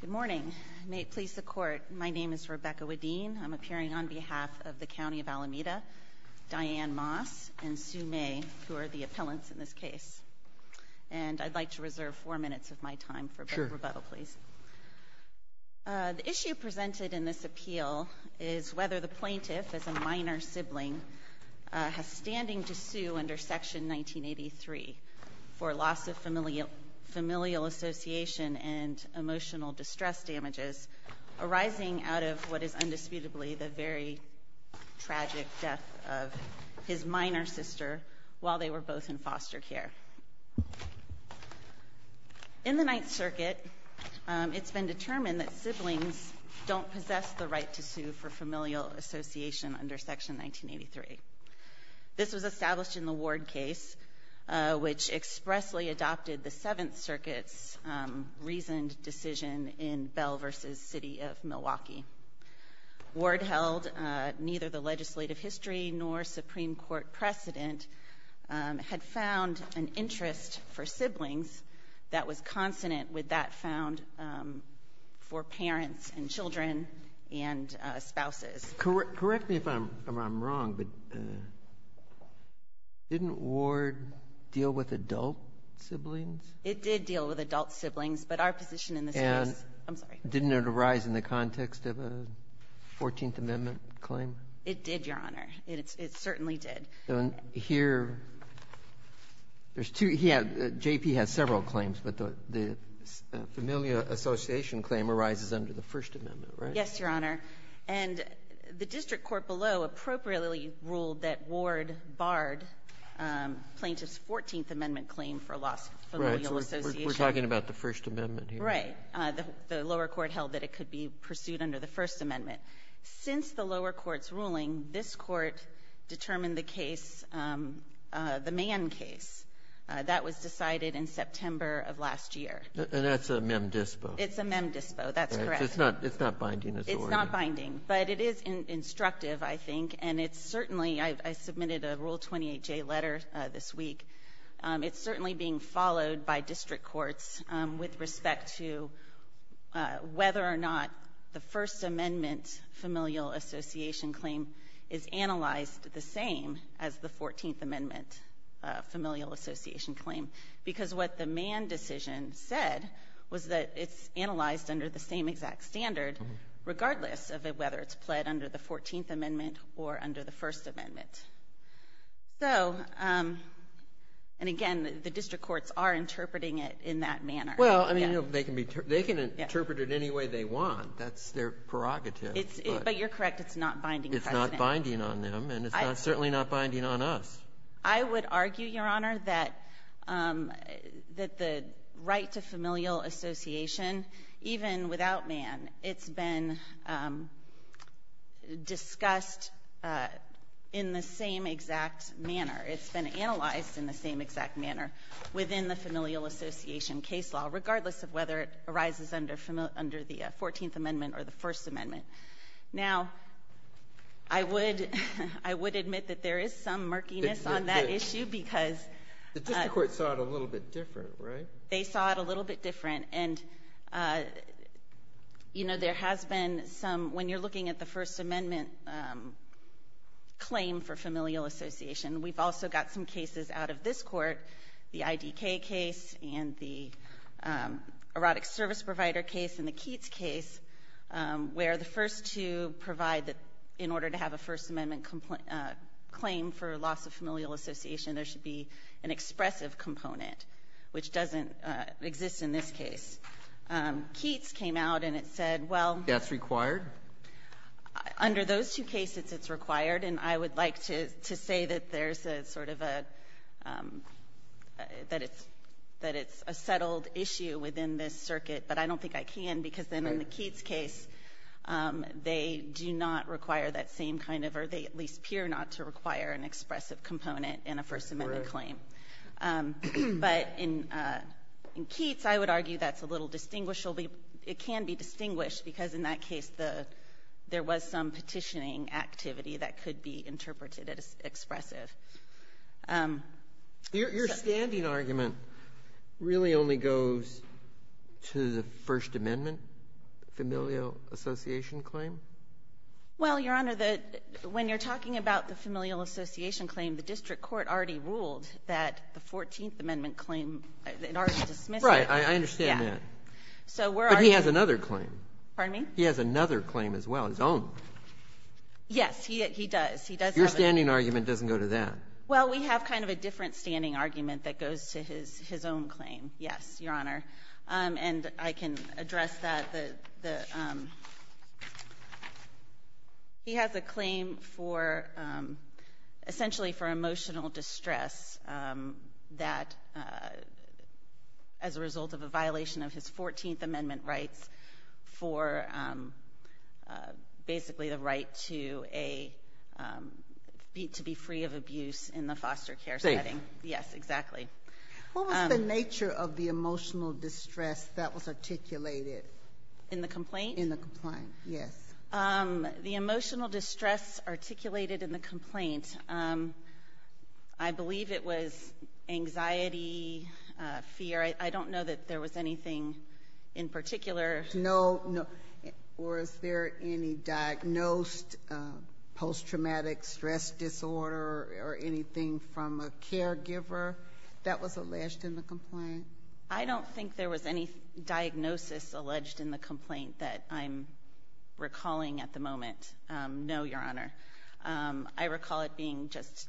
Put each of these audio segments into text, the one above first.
Good morning. May it please the Court, my name is Rebecca Wedeen. I'm appearing on behalf of the County of Alameda, Diane Moss and Sue May, who are the appellants in this case. And I'd like to reserve four minutes of my time for a bit of rebuttal, please. The issue presented in this appeal is whether the plaintiff, as a minor sibling, has standing to sue under Section 1983 for loss of familial association and emotional distress damages arising out of what is undisputably the very tragic death of his minor sister while they were both in foster care. In the Ninth Circuit, it's been determined that siblings don't possess the right to sue for familial association under Section 1983. This was established in the Ward case, which expressly adopted the Seventh Circuit's reasoned decision in Bell v. City of Milwaukee. Ward held neither the legislative history nor Supreme Court precedent had found an interest for siblings that was consonant with that found for parents and children and siblings and spouses. Correct me if I'm wrong, but didn't Ward deal with adult siblings? It did deal with adult siblings, but our position in this case was the same. And didn't it arise in the context of a Fourteenth Amendment claim? It did, Your Honor. It certainly did. Here, there's two. J.P. has several claims, but the familial association claim arises under the First Amendment, right? Yes, Your Honor. And the district court below appropriately ruled that Ward barred plaintiff's Fourteenth Amendment claim for loss of familial association. Right. So we're talking about the First Amendment here. Right. The lower court held that it could be pursued under the First Amendment. Since the lower court's ruling, this Court determined the case, the Mann case, that was decided in September of last year. And that's a mem dispo. It's a mem dispo. That's correct. It's not binding, is it? It's not binding. But it is instructive, I think. And it's certainly — I submitted a Rule 28J letter this week. It's certainly being followed by district courts with respect to whether or not the First Amendment familial association claim is analyzed the same as the Fourteenth Amendment familial association claim, because what the Mann decision said was that it's analyzed under the same exact standard, regardless of whether it's pled under the Fourteenth Amendment or under the First Amendment. So — and again, the district courts are interpreting it in that manner. Well, I mean, they can interpret it any way they want. That's their prerogative. But you're correct. It's not binding precedent. It's not binding on them, and it's certainly not binding on us. I would argue, Your Honor, that the right to familial association, even without Mann, it's been discussed in the same exact manner. It's been analyzed in the same exact manner within the familial association case law, regardless of whether it arises under the Fourteenth Amendment or the First Amendment. Now, I would — I would admit that there is some murkiness on that issue, because — The district courts saw it a little bit different, right? They saw it a little bit different. And, you know, there has been some — when you're looking at the First Amendment claim for familial association, we've also got some cases out of this court, the IDK case and the erotic service provider case and the Keats case, where the first two provide that in order to have a First Amendment claim for loss of familial association, there should be an expressive component, which doesn't exist in this case. Keats came out and it said, well — That's required? Under those two cases, it's required. And I would like to say that there's a sort of a — that it's a settled issue within this circuit, but I don't think I can, because then in the Keats case, they do not require that same kind of — or they at least appear not to require an expressive component in a First Amendment claim. But in Keats, I would argue that's a little distinguished. It can be distinguished, because in that case, there was some petitioning activity that could be interpreted as expressive. Your standing argument really only goes to the First Amendment familial association claim? Well, Your Honor, the — when you're talking about the familial association claim, the district court already ruled that the Fourteenth Amendment claim, in order to dismiss it — Right. I understand that. But he has another claim. Pardon me? He has another claim as well, his own. Yes. He does. He does have a — Your standing argument doesn't go to that. Well, we have kind of a different standing argument that goes to his own claim, yes, Your Honor. And I can address that. The — he has a claim for — essentially for emotional distress that, as a result of a violation of his Fourteenth Amendment rights, for basically the right to a — to be free of abuse in the foster care setting. Safe. Yes, exactly. What was the nature of the emotional distress that was articulated? In the complaint? In the complaint, yes. The emotional distress articulated in the complaint, I believe it was anxiety, fear. I don't know that there was anything in particular. No. No. Or is there any diagnosed post-traumatic stress disorder or anything from a caregiver that was alleged in the complaint? I don't think there was any diagnosis alleged in the complaint that I'm recalling at the moment. No, Your Honor. I recall it being just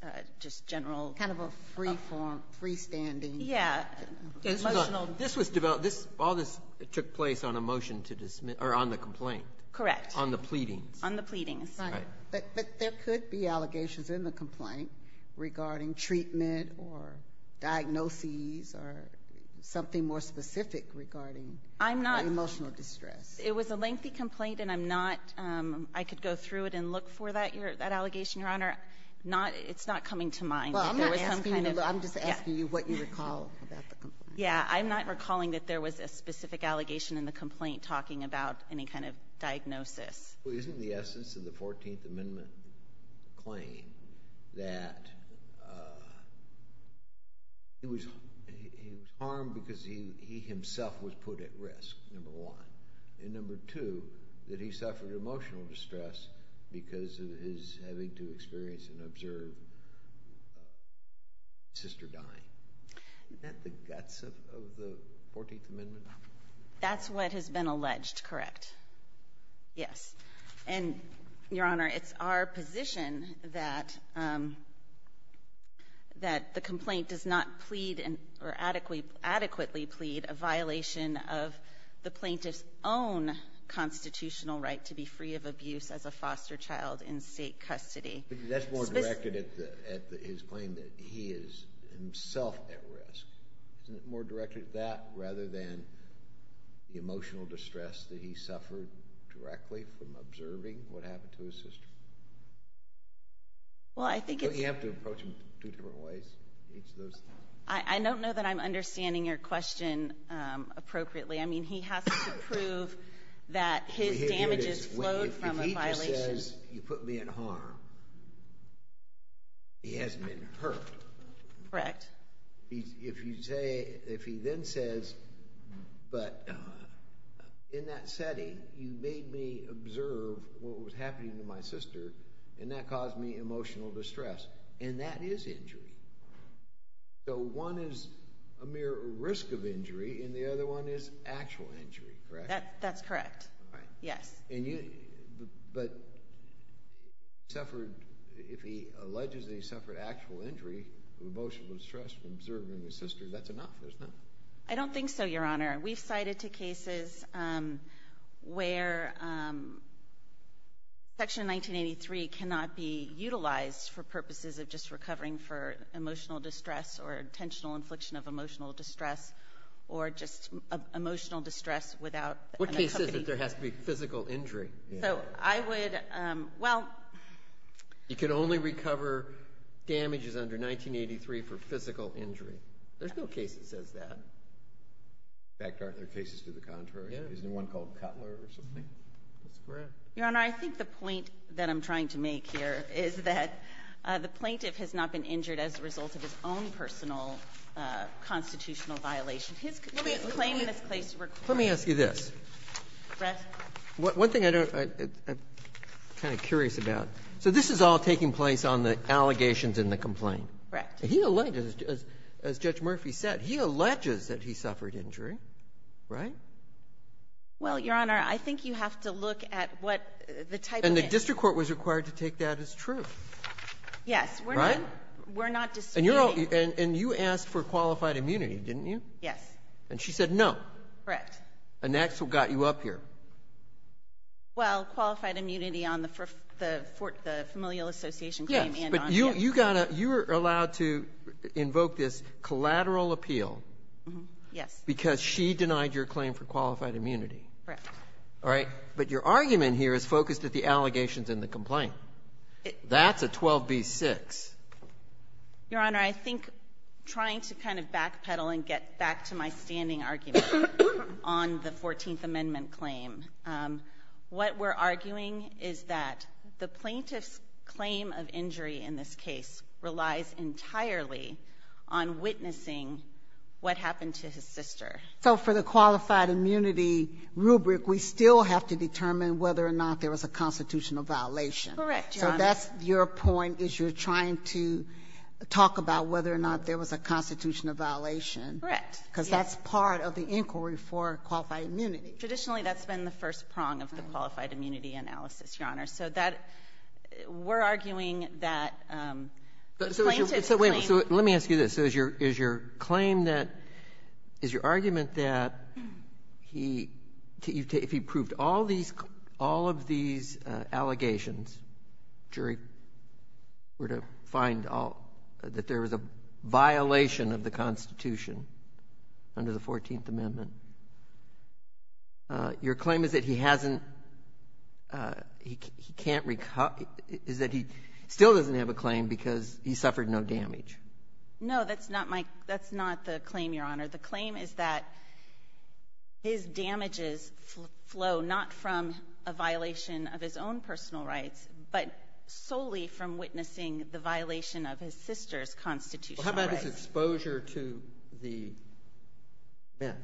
general — Kind of a free form, freestanding — Yeah. Emotional — This was developed — all this took place on a motion to dismiss — or on the complaint. Correct. On the pleadings. On the pleadings. Right. But there could be allegations in the complaint regarding treatment or diagnoses or something more specific regarding — I'm not —— emotional distress. It was a lengthy complaint, and I'm not — I could go through it and look for that allegation, Your Honor. Not — it's not coming to mind that there was some kind of — Yeah. I'm not recalling that there was a specific allegation in the complaint talking about any kind of diagnosis. Well, isn't the essence of the 14th Amendment claim that he was harmed because he himself was put at risk, number one, and number two, that he suffered emotional distress because of his having to experience and observe his sister dying? Isn't that the guts of the 14th Amendment? That's what has been alleged, correct. Yes. And, Your Honor, it's our position that the complaint does not plead or adequately plead a violation of the plaintiff's own constitutional right to be free of abuse as a foster child in state custody. But that's more directed at his claim that he is himself at risk. Isn't it more directed at that rather than the emotional distress that he suffered directly from observing what happened to his sister? Well, I think it's — Don't you have to approach him two different ways, each of those things? I don't know that I'm understanding your question appropriately. I mean, he has to prove that his damages flowed from a violation — He hasn't been hurt. Correct. If you say — if he then says, but in that setting, you made me observe what was happening to my sister, and that caused me emotional distress, and that is injury. So one is a mere risk of injury, and the other one is actual injury, correct? That's correct. Right. Yes. And you — but he suffered — if he alleges that he suffered actual injury from emotional distress from observing his sister, that's enough, isn't it? I don't think so, Your Honor. We've cited two cases where Section 1983 cannot be utilized for purposes of just recovering for emotional distress or intentional infliction of emotional distress or just emotional distress without an accompanying — It says that there has to be physical injury. So I would — well — You can only recover damages under 1983 for physical injury. There's no case that says that. In fact, aren't there cases to the contrary? Yeah. Isn't there one called Cutler or something? That's correct. Your Honor, I think the point that I'm trying to make here is that the plaintiff has not His claim in this case requires — Let me ask you this. Yes. One thing I don't — I'm kind of curious about. So this is all taking place on the allegations in the complaint. Correct. He alleges, as Judge Murphy said, he alleges that he suffered injury, right? Well, Your Honor, I think you have to look at what the type of — And the district court was required to take that as true. Yes. Right? We're not disputing — And you asked for qualified immunity, didn't you? Yes. And she said no. Correct. And that's what got you up here. Well, qualified immunity on the familial association claim and on — Yes. But you got a — you were allowed to invoke this collateral appeal. Yes. Because she denied your claim for qualified immunity. Correct. All right? But your argument here is focused at the allegations in the complaint. That's a 12b-6. Your Honor, I think trying to kind of backpedal and get back to my standing argument on the 14th Amendment claim, what we're arguing is that the plaintiff's claim of injury in this case relies entirely on witnessing what happened to his sister. So for the qualified immunity rubric, we still have to determine whether or not there was a constitutional violation. Correct, Your Honor. So that's your point is you're trying to talk about whether or not there was a constitutional violation. Correct. Because that's part of the inquiry for qualified immunity. Traditionally, that's been the first prong of the qualified immunity analysis, Your Honor. So that — we're arguing that the plaintiff's claim — So wait a minute. So let me ask you this. So is your claim that — is your argument that he — if he proved all these — all of these allegations, jury, were to find all — that there was a violation of the Constitution under the 14th Amendment, your claim is that he hasn't — he can't — is that he still doesn't have a claim because he suffered no damage? No, that's not my — that's not the claim, Your Honor. The claim is that his damages flow not from a violation of his own personal rights, but solely from witnessing the violation of his sister's constitutional rights. Well, how about his exposure to the meth?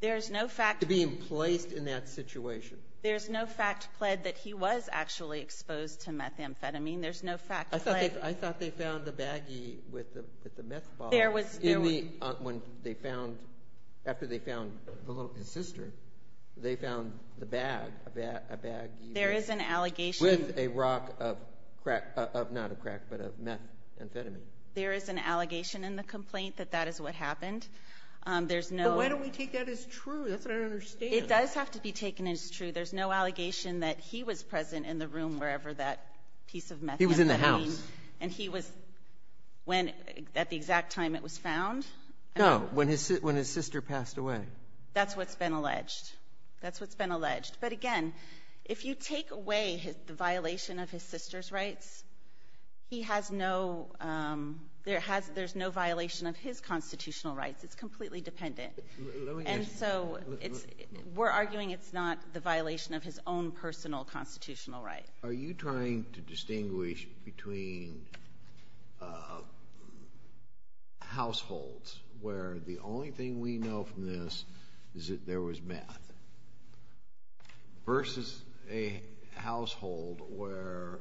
There's no fact — To being placed in that situation. There's no fact pled that he was actually exposed to methamphetamine. There's no fact pled — I thought they found the baggie with the meth bottle. There was — When they found — after they found his sister, they found the bag, a baggie — There is an allegation — With a rock of crack — not of crack, but of methamphetamine. There is an allegation in the complaint that that is what happened. There's no — But why don't we take that as true? That's what I don't understand. It does have to be taken as true. He was in the house. And he was — when — at the exact time it was found? No. When his sister passed away. That's what's been alleged. That's what's been alleged. But, again, if you take away the violation of his sister's rights, he has no — there has — there's no violation of his constitutional rights. It's completely dependent. And so it's — we're arguing it's not the violation of his own personal constitutional rights. Are you trying to distinguish between households where the only thing we know from this is that there was meth versus a household where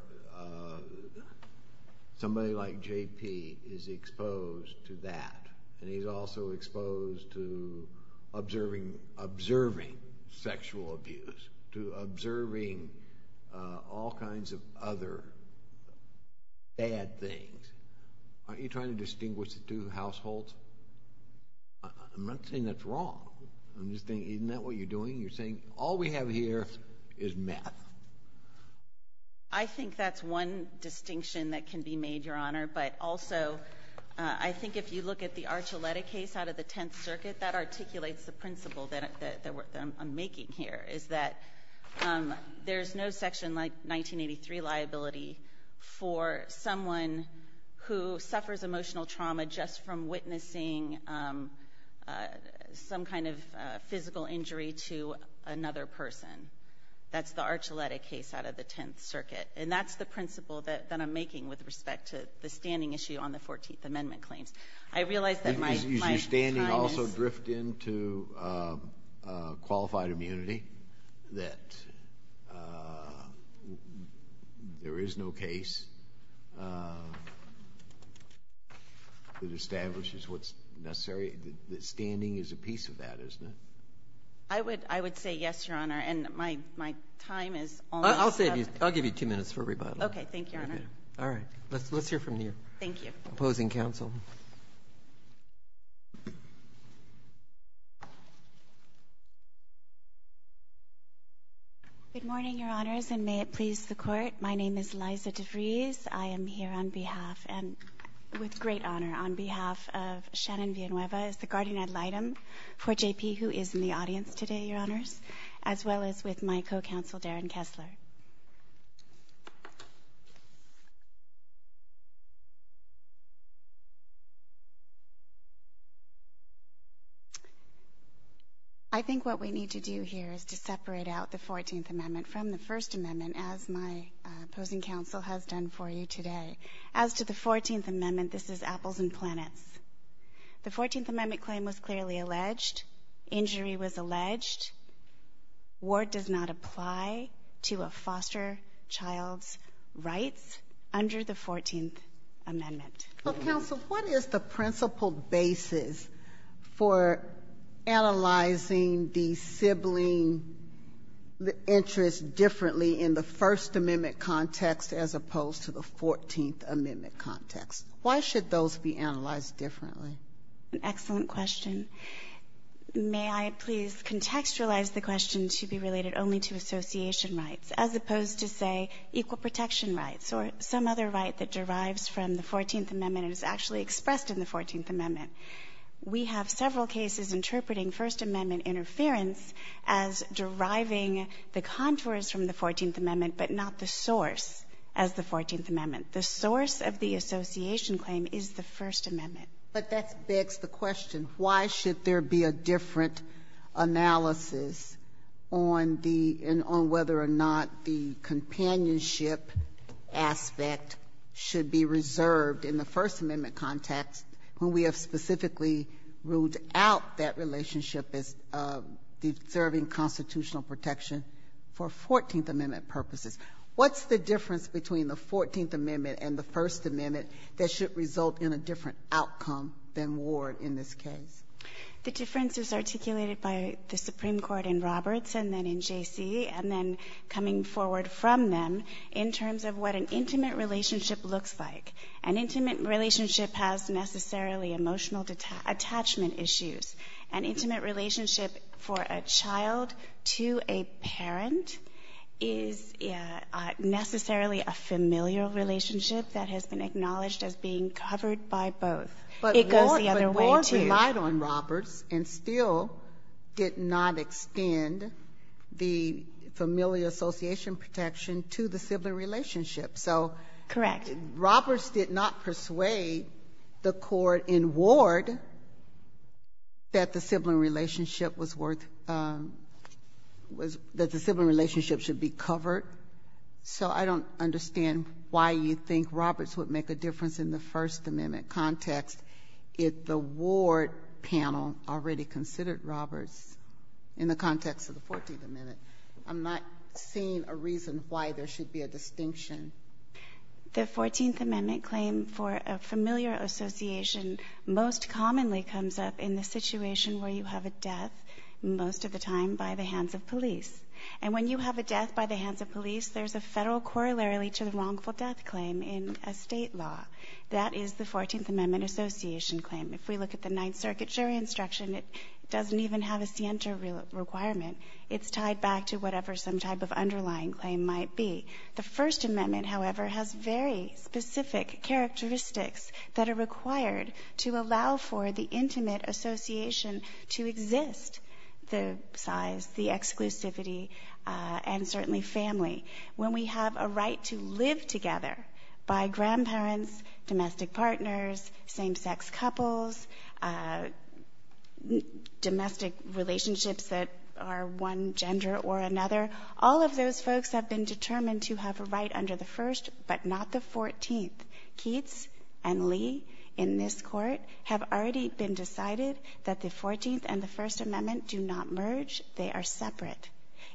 somebody like J.P. is exposed to that, and all kinds of other bad things? Aren't you trying to distinguish the two households? I'm not saying that's wrong. I'm just saying, isn't that what you're doing? You're saying, all we have here is meth. I think that's one distinction that can be made, Your Honor. But also, I think if you look at the Archuleta case out of the Tenth Circuit, that articulates the principle that I'm making here, is that there's no Section 1983 liability for someone who suffers emotional trauma just from witnessing some kind of physical injury to another person. That's the Archuleta case out of the Tenth Circuit. And that's the principle that I'm making with respect to the standing issue on the 14th Amendment claims. I realize that my time is —— to qualified immunity, that there is no case that establishes what's necessary. Standing is a piece of that, isn't it? I would say yes, Your Honor, and my time is almost up. I'll give you two minutes for rebuttal. Okay, thank you, Your Honor. All right. Let's hear from you. Thank you. Opposing counsel? Good morning, Your Honors, and may it please the Court. My name is Liza DeVries. I am here on behalf — and with great honor — on behalf of Shannon Villanueva as the guardian ad litem for JP, who is in the audience today, Your Honors, as well as with my co-counsel Darren Kessler. I think what we need to do here is to separate out the 14th Amendment from the First Amendment, as my opposing counsel has done for you today. As to the 14th Amendment, this is apples and planets. The 14th Amendment claim was clearly alleged. Injury was alleged. Ward does not apply to a foster child's rights under the 14th Amendment. Well, counsel, what is the principal basis for analyzing the sibling interest differently in the First Amendment context as opposed to the 14th Amendment context? Why should those be analyzed differently? Excellent question. May I please contextualize the question to be related only to association rights as opposed to, say, equal protection rights or some other right that derives from the 14th Amendment and is actually expressed in the 14th Amendment? We have several cases interpreting First Amendment interference as deriving the contours from the 14th Amendment but not the source as the 14th Amendment. The source of the association claim is the First Amendment. But that begs the question. Why should there be a different analysis on the — on whether or not the companionship aspect should be reserved in the First Amendment context when we have specifically ruled out that relationship as deserving constitutional protection for 14th Amendment purposes? What's the difference between the 14th Amendment and the First Amendment that should result in a different outcome than Ward in this case? The difference is articulated by the Supreme Court in Roberts and then in J.C. and then coming forward from them in terms of what an intimate relationship looks like. An intimate relationship has necessarily emotional attachment issues. An intimate relationship for a child to a parent is necessarily a familial relationship that has been acknowledged as being covered by both. It goes the other way, too. But Ward relied on Roberts and still did not extend the familial association protection to the sibling relationship. Correct. So Roberts did not persuade the Court in Ward that the sibling relationship was worth — that the sibling relationship should be covered. So I don't understand why you think Roberts would make a difference in the First Amendment context if the Ward panel already considered Roberts in the context of the 14th Amendment. I'm not seeing a reason why there should be a distinction. The 14th Amendment claim for a familiar association most commonly comes up in the situation where you have a death, most of the time by the hands of police. And when you have a death by the hands of police, there's a Federal corollary to the wrongful death claim in a State law. That is the 14th Amendment association claim. If we look at the Ninth Circuit jury instruction, it doesn't even have a scienter requirement. It's tied back to whatever some type of underlying claim might be. The First Amendment, however, has very specific characteristics that are required to allow for the intimate association to exist, the size, the exclusivity, and certainly family. When we have a right to live together by grandparents, domestic partners, same-sex couples, domestic relationships that are one gender or another, all of those folks have been determined to have a right under the First but not the 14th. Keats and Lee in this Court have already been decided that the 14th and the First Amendment do not merge. They are separate.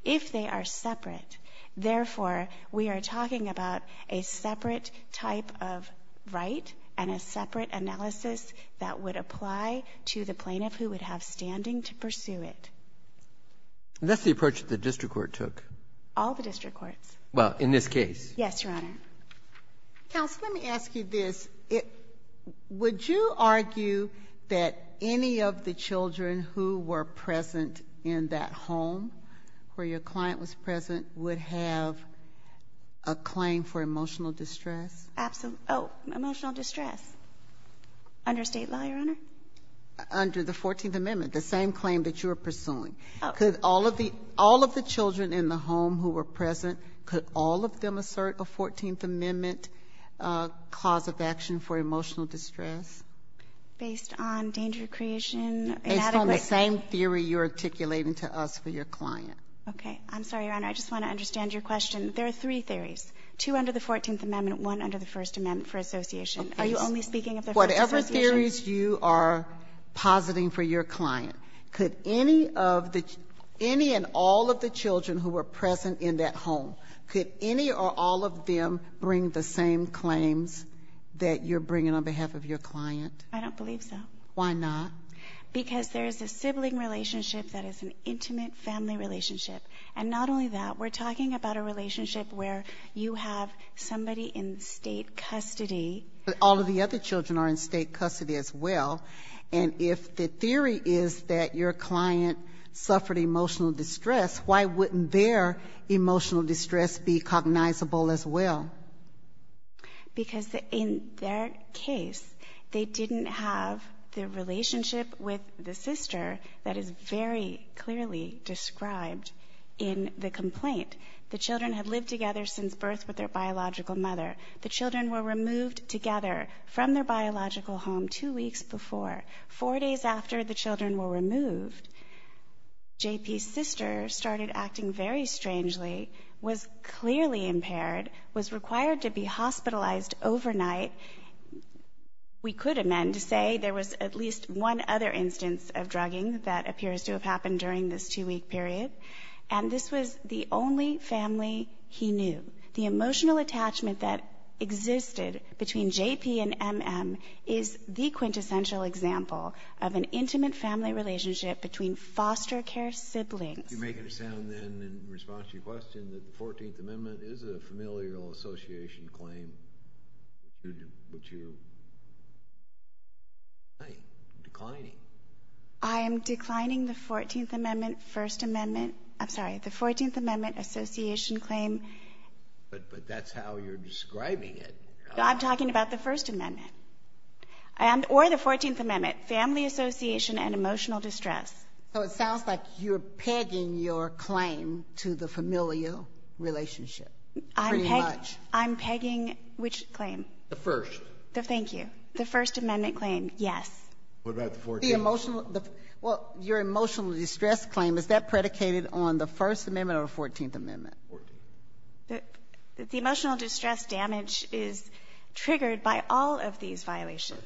If they are separate, therefore, we are talking about a separate type of right and a separate analysis that would apply to the plaintiff who would have standing to pursue it. Breyer, that's the approach that the district court took. Well, in this case. Yes, Your Honor. Counsel, let me ask you this. Would you argue that any of the children who were present in that home where your client was present would have a claim for emotional distress? Oh, emotional distress. Under State law, Your Honor? Under the 14th Amendment, the same claim that you are pursuing. Could all of the children in the home who were present, could all of them assert a 14th Amendment cause of action for emotional distress? Based on danger of creation? Based on the same theory you are articulating to us for your client. Okay. I'm sorry, Your Honor. I just want to understand your question. There are three theories, two under the 14th Amendment, one under the First Amendment for association. Are you only speaking of the First Association? Whatever theories you are positing for your client, could any of the children and all of the children who were present in that home, could any or all of them bring the same claims that you're bringing on behalf of your client? I don't believe so. Why not? Because there is a sibling relationship that is an intimate family relationship. And not only that, we're talking about a relationship where you have somebody in State custody. But all of the other children are in State custody as well. And if the theory is that your client suffered emotional distress, why wouldn't their emotional distress be cognizable as well? Because in their case, they didn't have the relationship with the sister that is very clearly described in the complaint. The children had lived together since birth with their biological mother. The children were removed together from their biological home two weeks before. Four days after the children were removed, J.P.'s sister started acting very strangely, was clearly impaired, was required to be hospitalized overnight. We could amend to say there was at least one other instance of drugging that appears to have happened during this two-week period. And this was the only family he knew. The emotional attachment that existed between J.P. and M.M. is the quintessential example of an intimate family relationship between foster care siblings. You make it sound then, in response to your question, that the 14th Amendment is a familial association claim, which you're declining. I am declining the 14th Amendment First Amendment. I'm sorry. The 14th Amendment association claim. But that's how you're describing it. I'm talking about the First Amendment. Or the 14th Amendment, family association and emotional distress. So it sounds like you're pegging your claim to the familial relationship, pretty much. I'm pegging which claim? The First. Thank you. The First Amendment claim, yes. What about the 14th? Well, your emotional distress claim, is that predicated on the First Amendment or the 14th Amendment? The 14th. The emotional distress damage is triggered by all of these violations.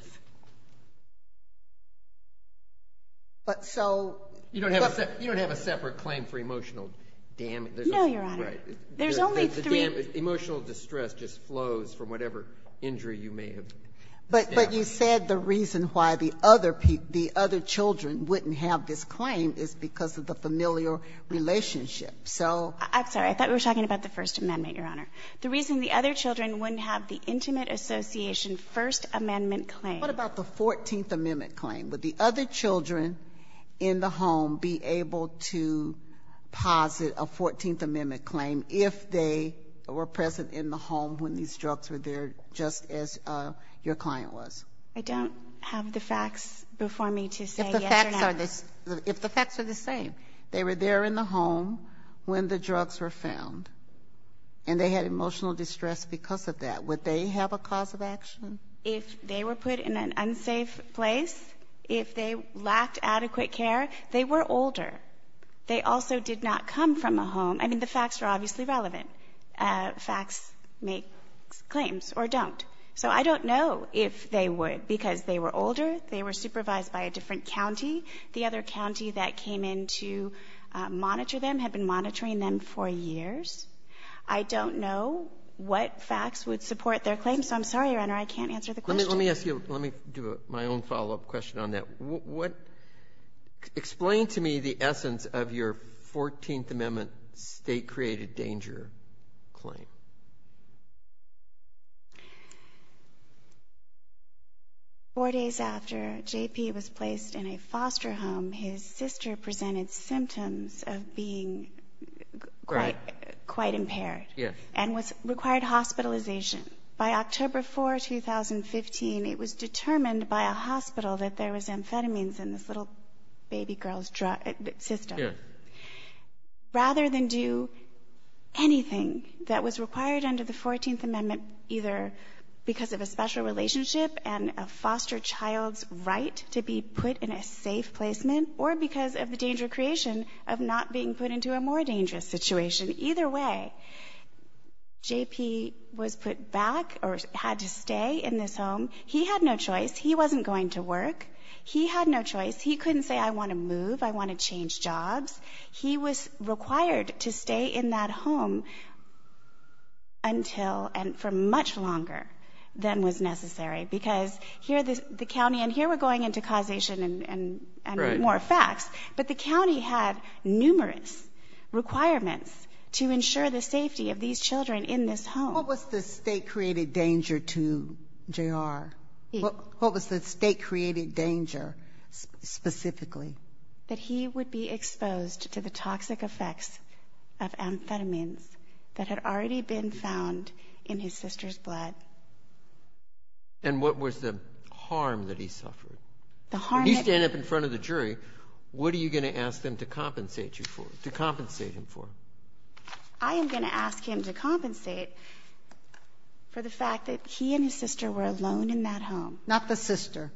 But so you don't have a separate claim for emotional damage. No, Your Honor. There's only three. The emotional distress just flows from whatever injury you may have. But you said the reason why the other children wouldn't have this claim is because of the familial relationship. So. I'm sorry. I thought we were talking about the First Amendment, Your Honor. The reason the other children wouldn't have the intimate association First Amendment claim. What about the 14th Amendment claim? Would the other children in the home be able to posit a 14th Amendment claim if they were present in the home when these drugs were there just as your client was? I don't have the facts before me to say yes or no. If the facts are the same. They were there in the home when the drugs were found. And they had emotional distress because of that. Would they have a cause of action? If they were put in an unsafe place, if they lacked adequate care, they were older. They also did not come from a home. I mean, the facts are obviously relevant. Facts make claims or don't. So I don't know if they would because they were older. They were supervised by a different county. The other county that came in to monitor them had been monitoring them for years. I don't know what facts would support their claim, so I'm sorry, Your Honor. I can't answer the question. Let me ask you. Let me do my own follow-up question on that. Explain to me the essence of your 14th Amendment state-created danger claim. Four days after J.P. was placed in a foster home, his sister presented symptoms of being quite impaired. Yes. And required hospitalization. By October 4, 2015, it was determined by a hospital that there was amphetamines in this little baby girl's system. Yes. Rather than do anything that was required under the 14th Amendment, either because of a special relationship and a foster child's right to be put in a safe placement or because of the danger creation of not being put into a more dangerous situation. Either way, J.P. was put back or had to stay in this home. He had no choice. He wasn't going to work. He had no choice. He couldn't say, I want to move. I want to change jobs. He was required to stay in that home until and for much longer than was necessary because here the county and here we're going into causation and more facts. But the county had numerous requirements to ensure the safety of these children in this home. What was the state-created danger to J.R.? What was the state-created danger specifically? That he would be exposed to the toxic effects of amphetamines that had already been found in his sister's blood. And what was the harm that he suffered? When you stand up in front of the jury, what are you going to ask them to compensate you for, to compensate him for? I am going to ask him to compensate for the fact that he and his sister were alone in that home. Not the sister.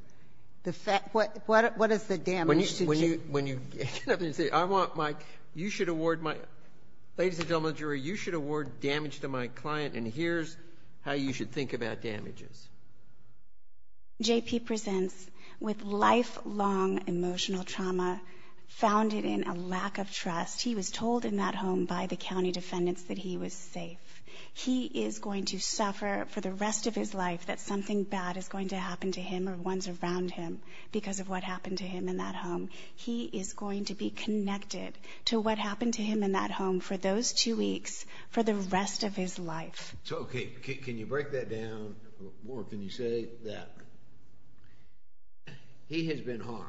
What is the damage? When you get up there and say, I want my, you should award my, ladies and gentlemen of the jury, you should award damage to my client, and here's how you should think about damages. J.P. presents with lifelong emotional trauma founded in a lack of trust. He was told in that home by the county defendants that he was safe. He is going to suffer for the rest of his life that something bad is going to happen to him or ones around him because of what happened to him in that home. He is going to be connected to what happened to him in that home for those two weeks for the rest of his life. So, okay, can you break that down more? Can you say that he has been harmed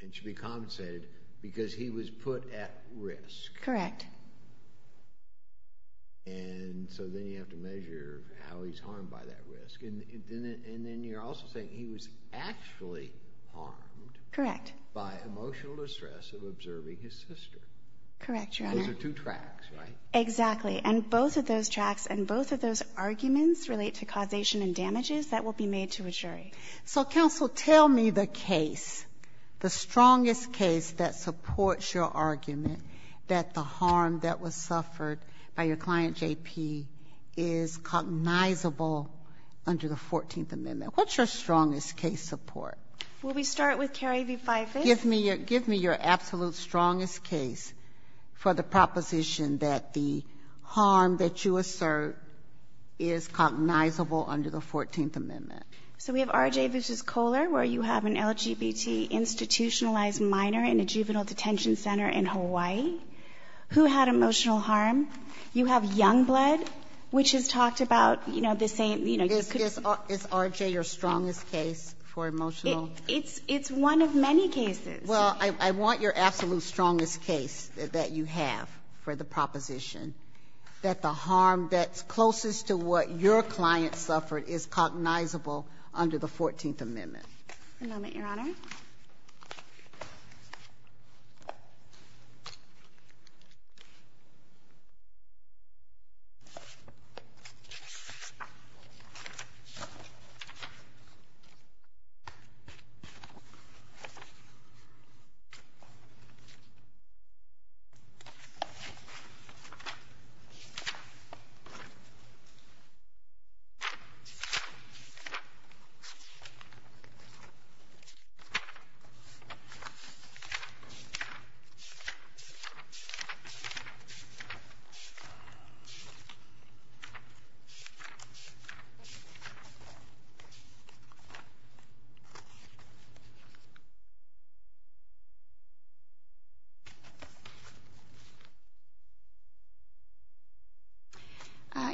and should be compensated because he was put at risk? Correct. And so then you have to measure how he's harmed by that risk. And then you're also saying he was actually harmed by emotional distress of observing his sister. Correct, Your Honor. Those are two tracks, right? Exactly. And both of those tracks and both of those arguments relate to causation and damages that will be made to a jury. So, counsel, tell me the case, the strongest case that supports your argument that the harm that was suffered by your client, J.P., is cognizable under the Fourteenth Amendment. What's your strongest case support? Will we start with Carey v. Fifis? Give me your absolute strongest case for the proposition that the harm that you assert is cognizable under the Fourteenth Amendment. So we have R.J. v. Kohler where you have an LGBT institutionalized minor in a juvenile detention center in Hawaii who had emotional harm. You have Youngblood, which is talked about, you know, the same, you know, you could Is R.J. your strongest case for emotional? It's one of many cases. Well, I want your absolute strongest case that you have for the proposition that the harm that's closest to what your client suffered is cognizable under the Fourteenth Amendment. One moment, Your Honor. Thank you.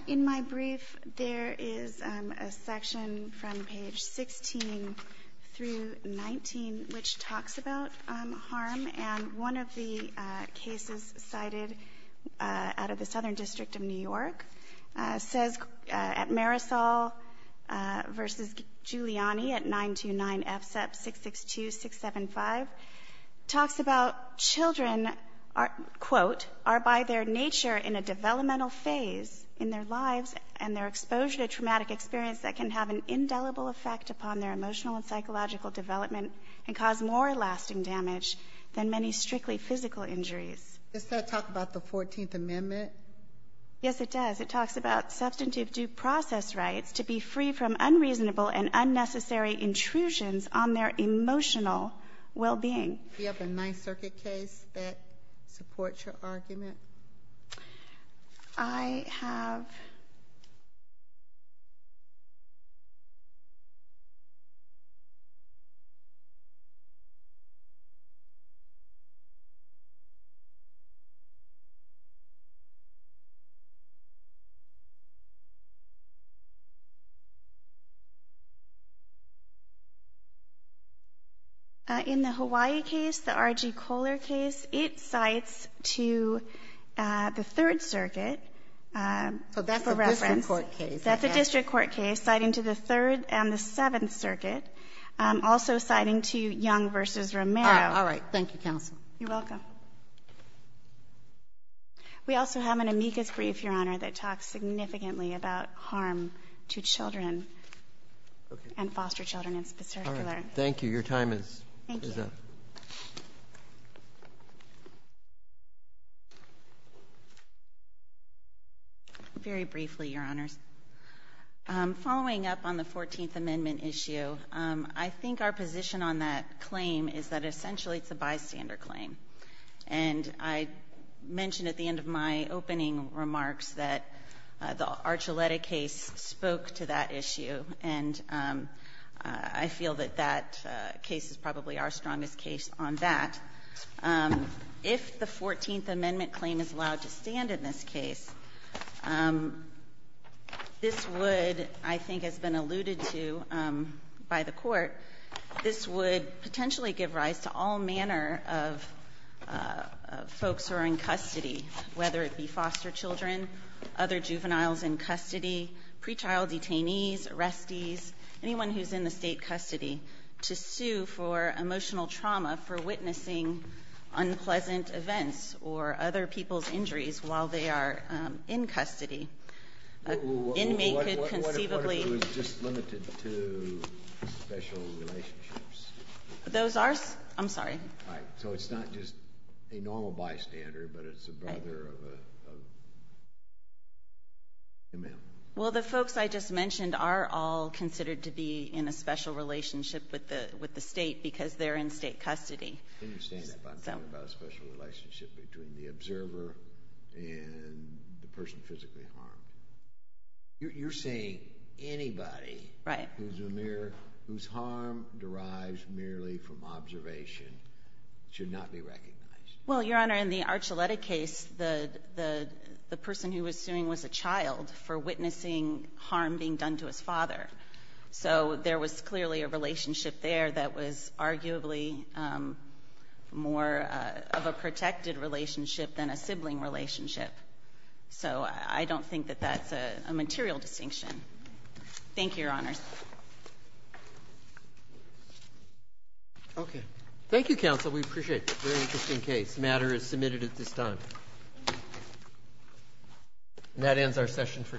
In my brief, there is a section from page 16 through 19 which talks about harm. And one of the cases cited out of the Southern District of New York says at Marisol v. Giuliani at 929-FSEP-662-675 talks about children are, quote, are by their nature in a developmental phase in their lives and their exposure to traumatic experience that can have an indelible effect upon their emotional and psychological development and cause more lasting damage than many strictly physical injuries. Does that talk about the Fourteenth Amendment? Yes, it does. It talks about substantive due process rights to be free from unreasonable and unnecessary intrusions on their emotional well-being. Do you have a Ninth Circuit case that supports your argument? I have... In the Hawaii case, the R.G. Kohler case, it cites to the Third Circuit for reference. So that's a district court case. That's a district court case citing to the Third and the Seventh Circuit, also citing to Young v. Romero. All right. Thank you, counsel. You're welcome. We also have an amicus brief, Your Honor, that talks significantly about harm to children and foster children in particular. All right. Thank you. Your time is up. Thank you. Very briefly, Your Honors. Following up on the Fourteenth Amendment issue, I think our position on that claim is that essentially it's a bystander claim. And I mentioned at the end of my opening remarks that the Archuleta case spoke to that issue, and I feel that that case is probably our strongest case on that. If the Fourteenth Amendment claim is allowed to stand in this case, this would, I think has been alluded to by the Court, this would potentially give rise to all manner of folks who are in custody, whether it be foster children, other juveniles in custody, pretrial detainees, arrestees, anyone who's in the State custody, to sue for emotional trauma for witnessing unpleasant events or other people's injuries while they are in custody. An inmate could conceivably... What if it was just limited to special relationships? Those are... I'm sorry. All right. So it's not just a normal bystander, but it's a brother of a man. Well, the folks I just mentioned are all considered to be in a special relationship with the State because they're in State custody. I understand that, but I'm talking about a special relationship between the observer and the person physically harmed. You're saying anybody... Right. ...whose harm derives merely from observation should not be recognized. Well, Your Honor, in the Archuleta case, the person who was suing was a child for witnessing harm being done to his father. So there was clearly a relationship there that was arguably more of a protected relationship than a sibling relationship. So I don't think that that's a material distinction. Thank you, Your Honor. Okay. Thank you, counsel. We appreciate it. Very interesting case. The matter is submitted at this time. And that ends our session for today.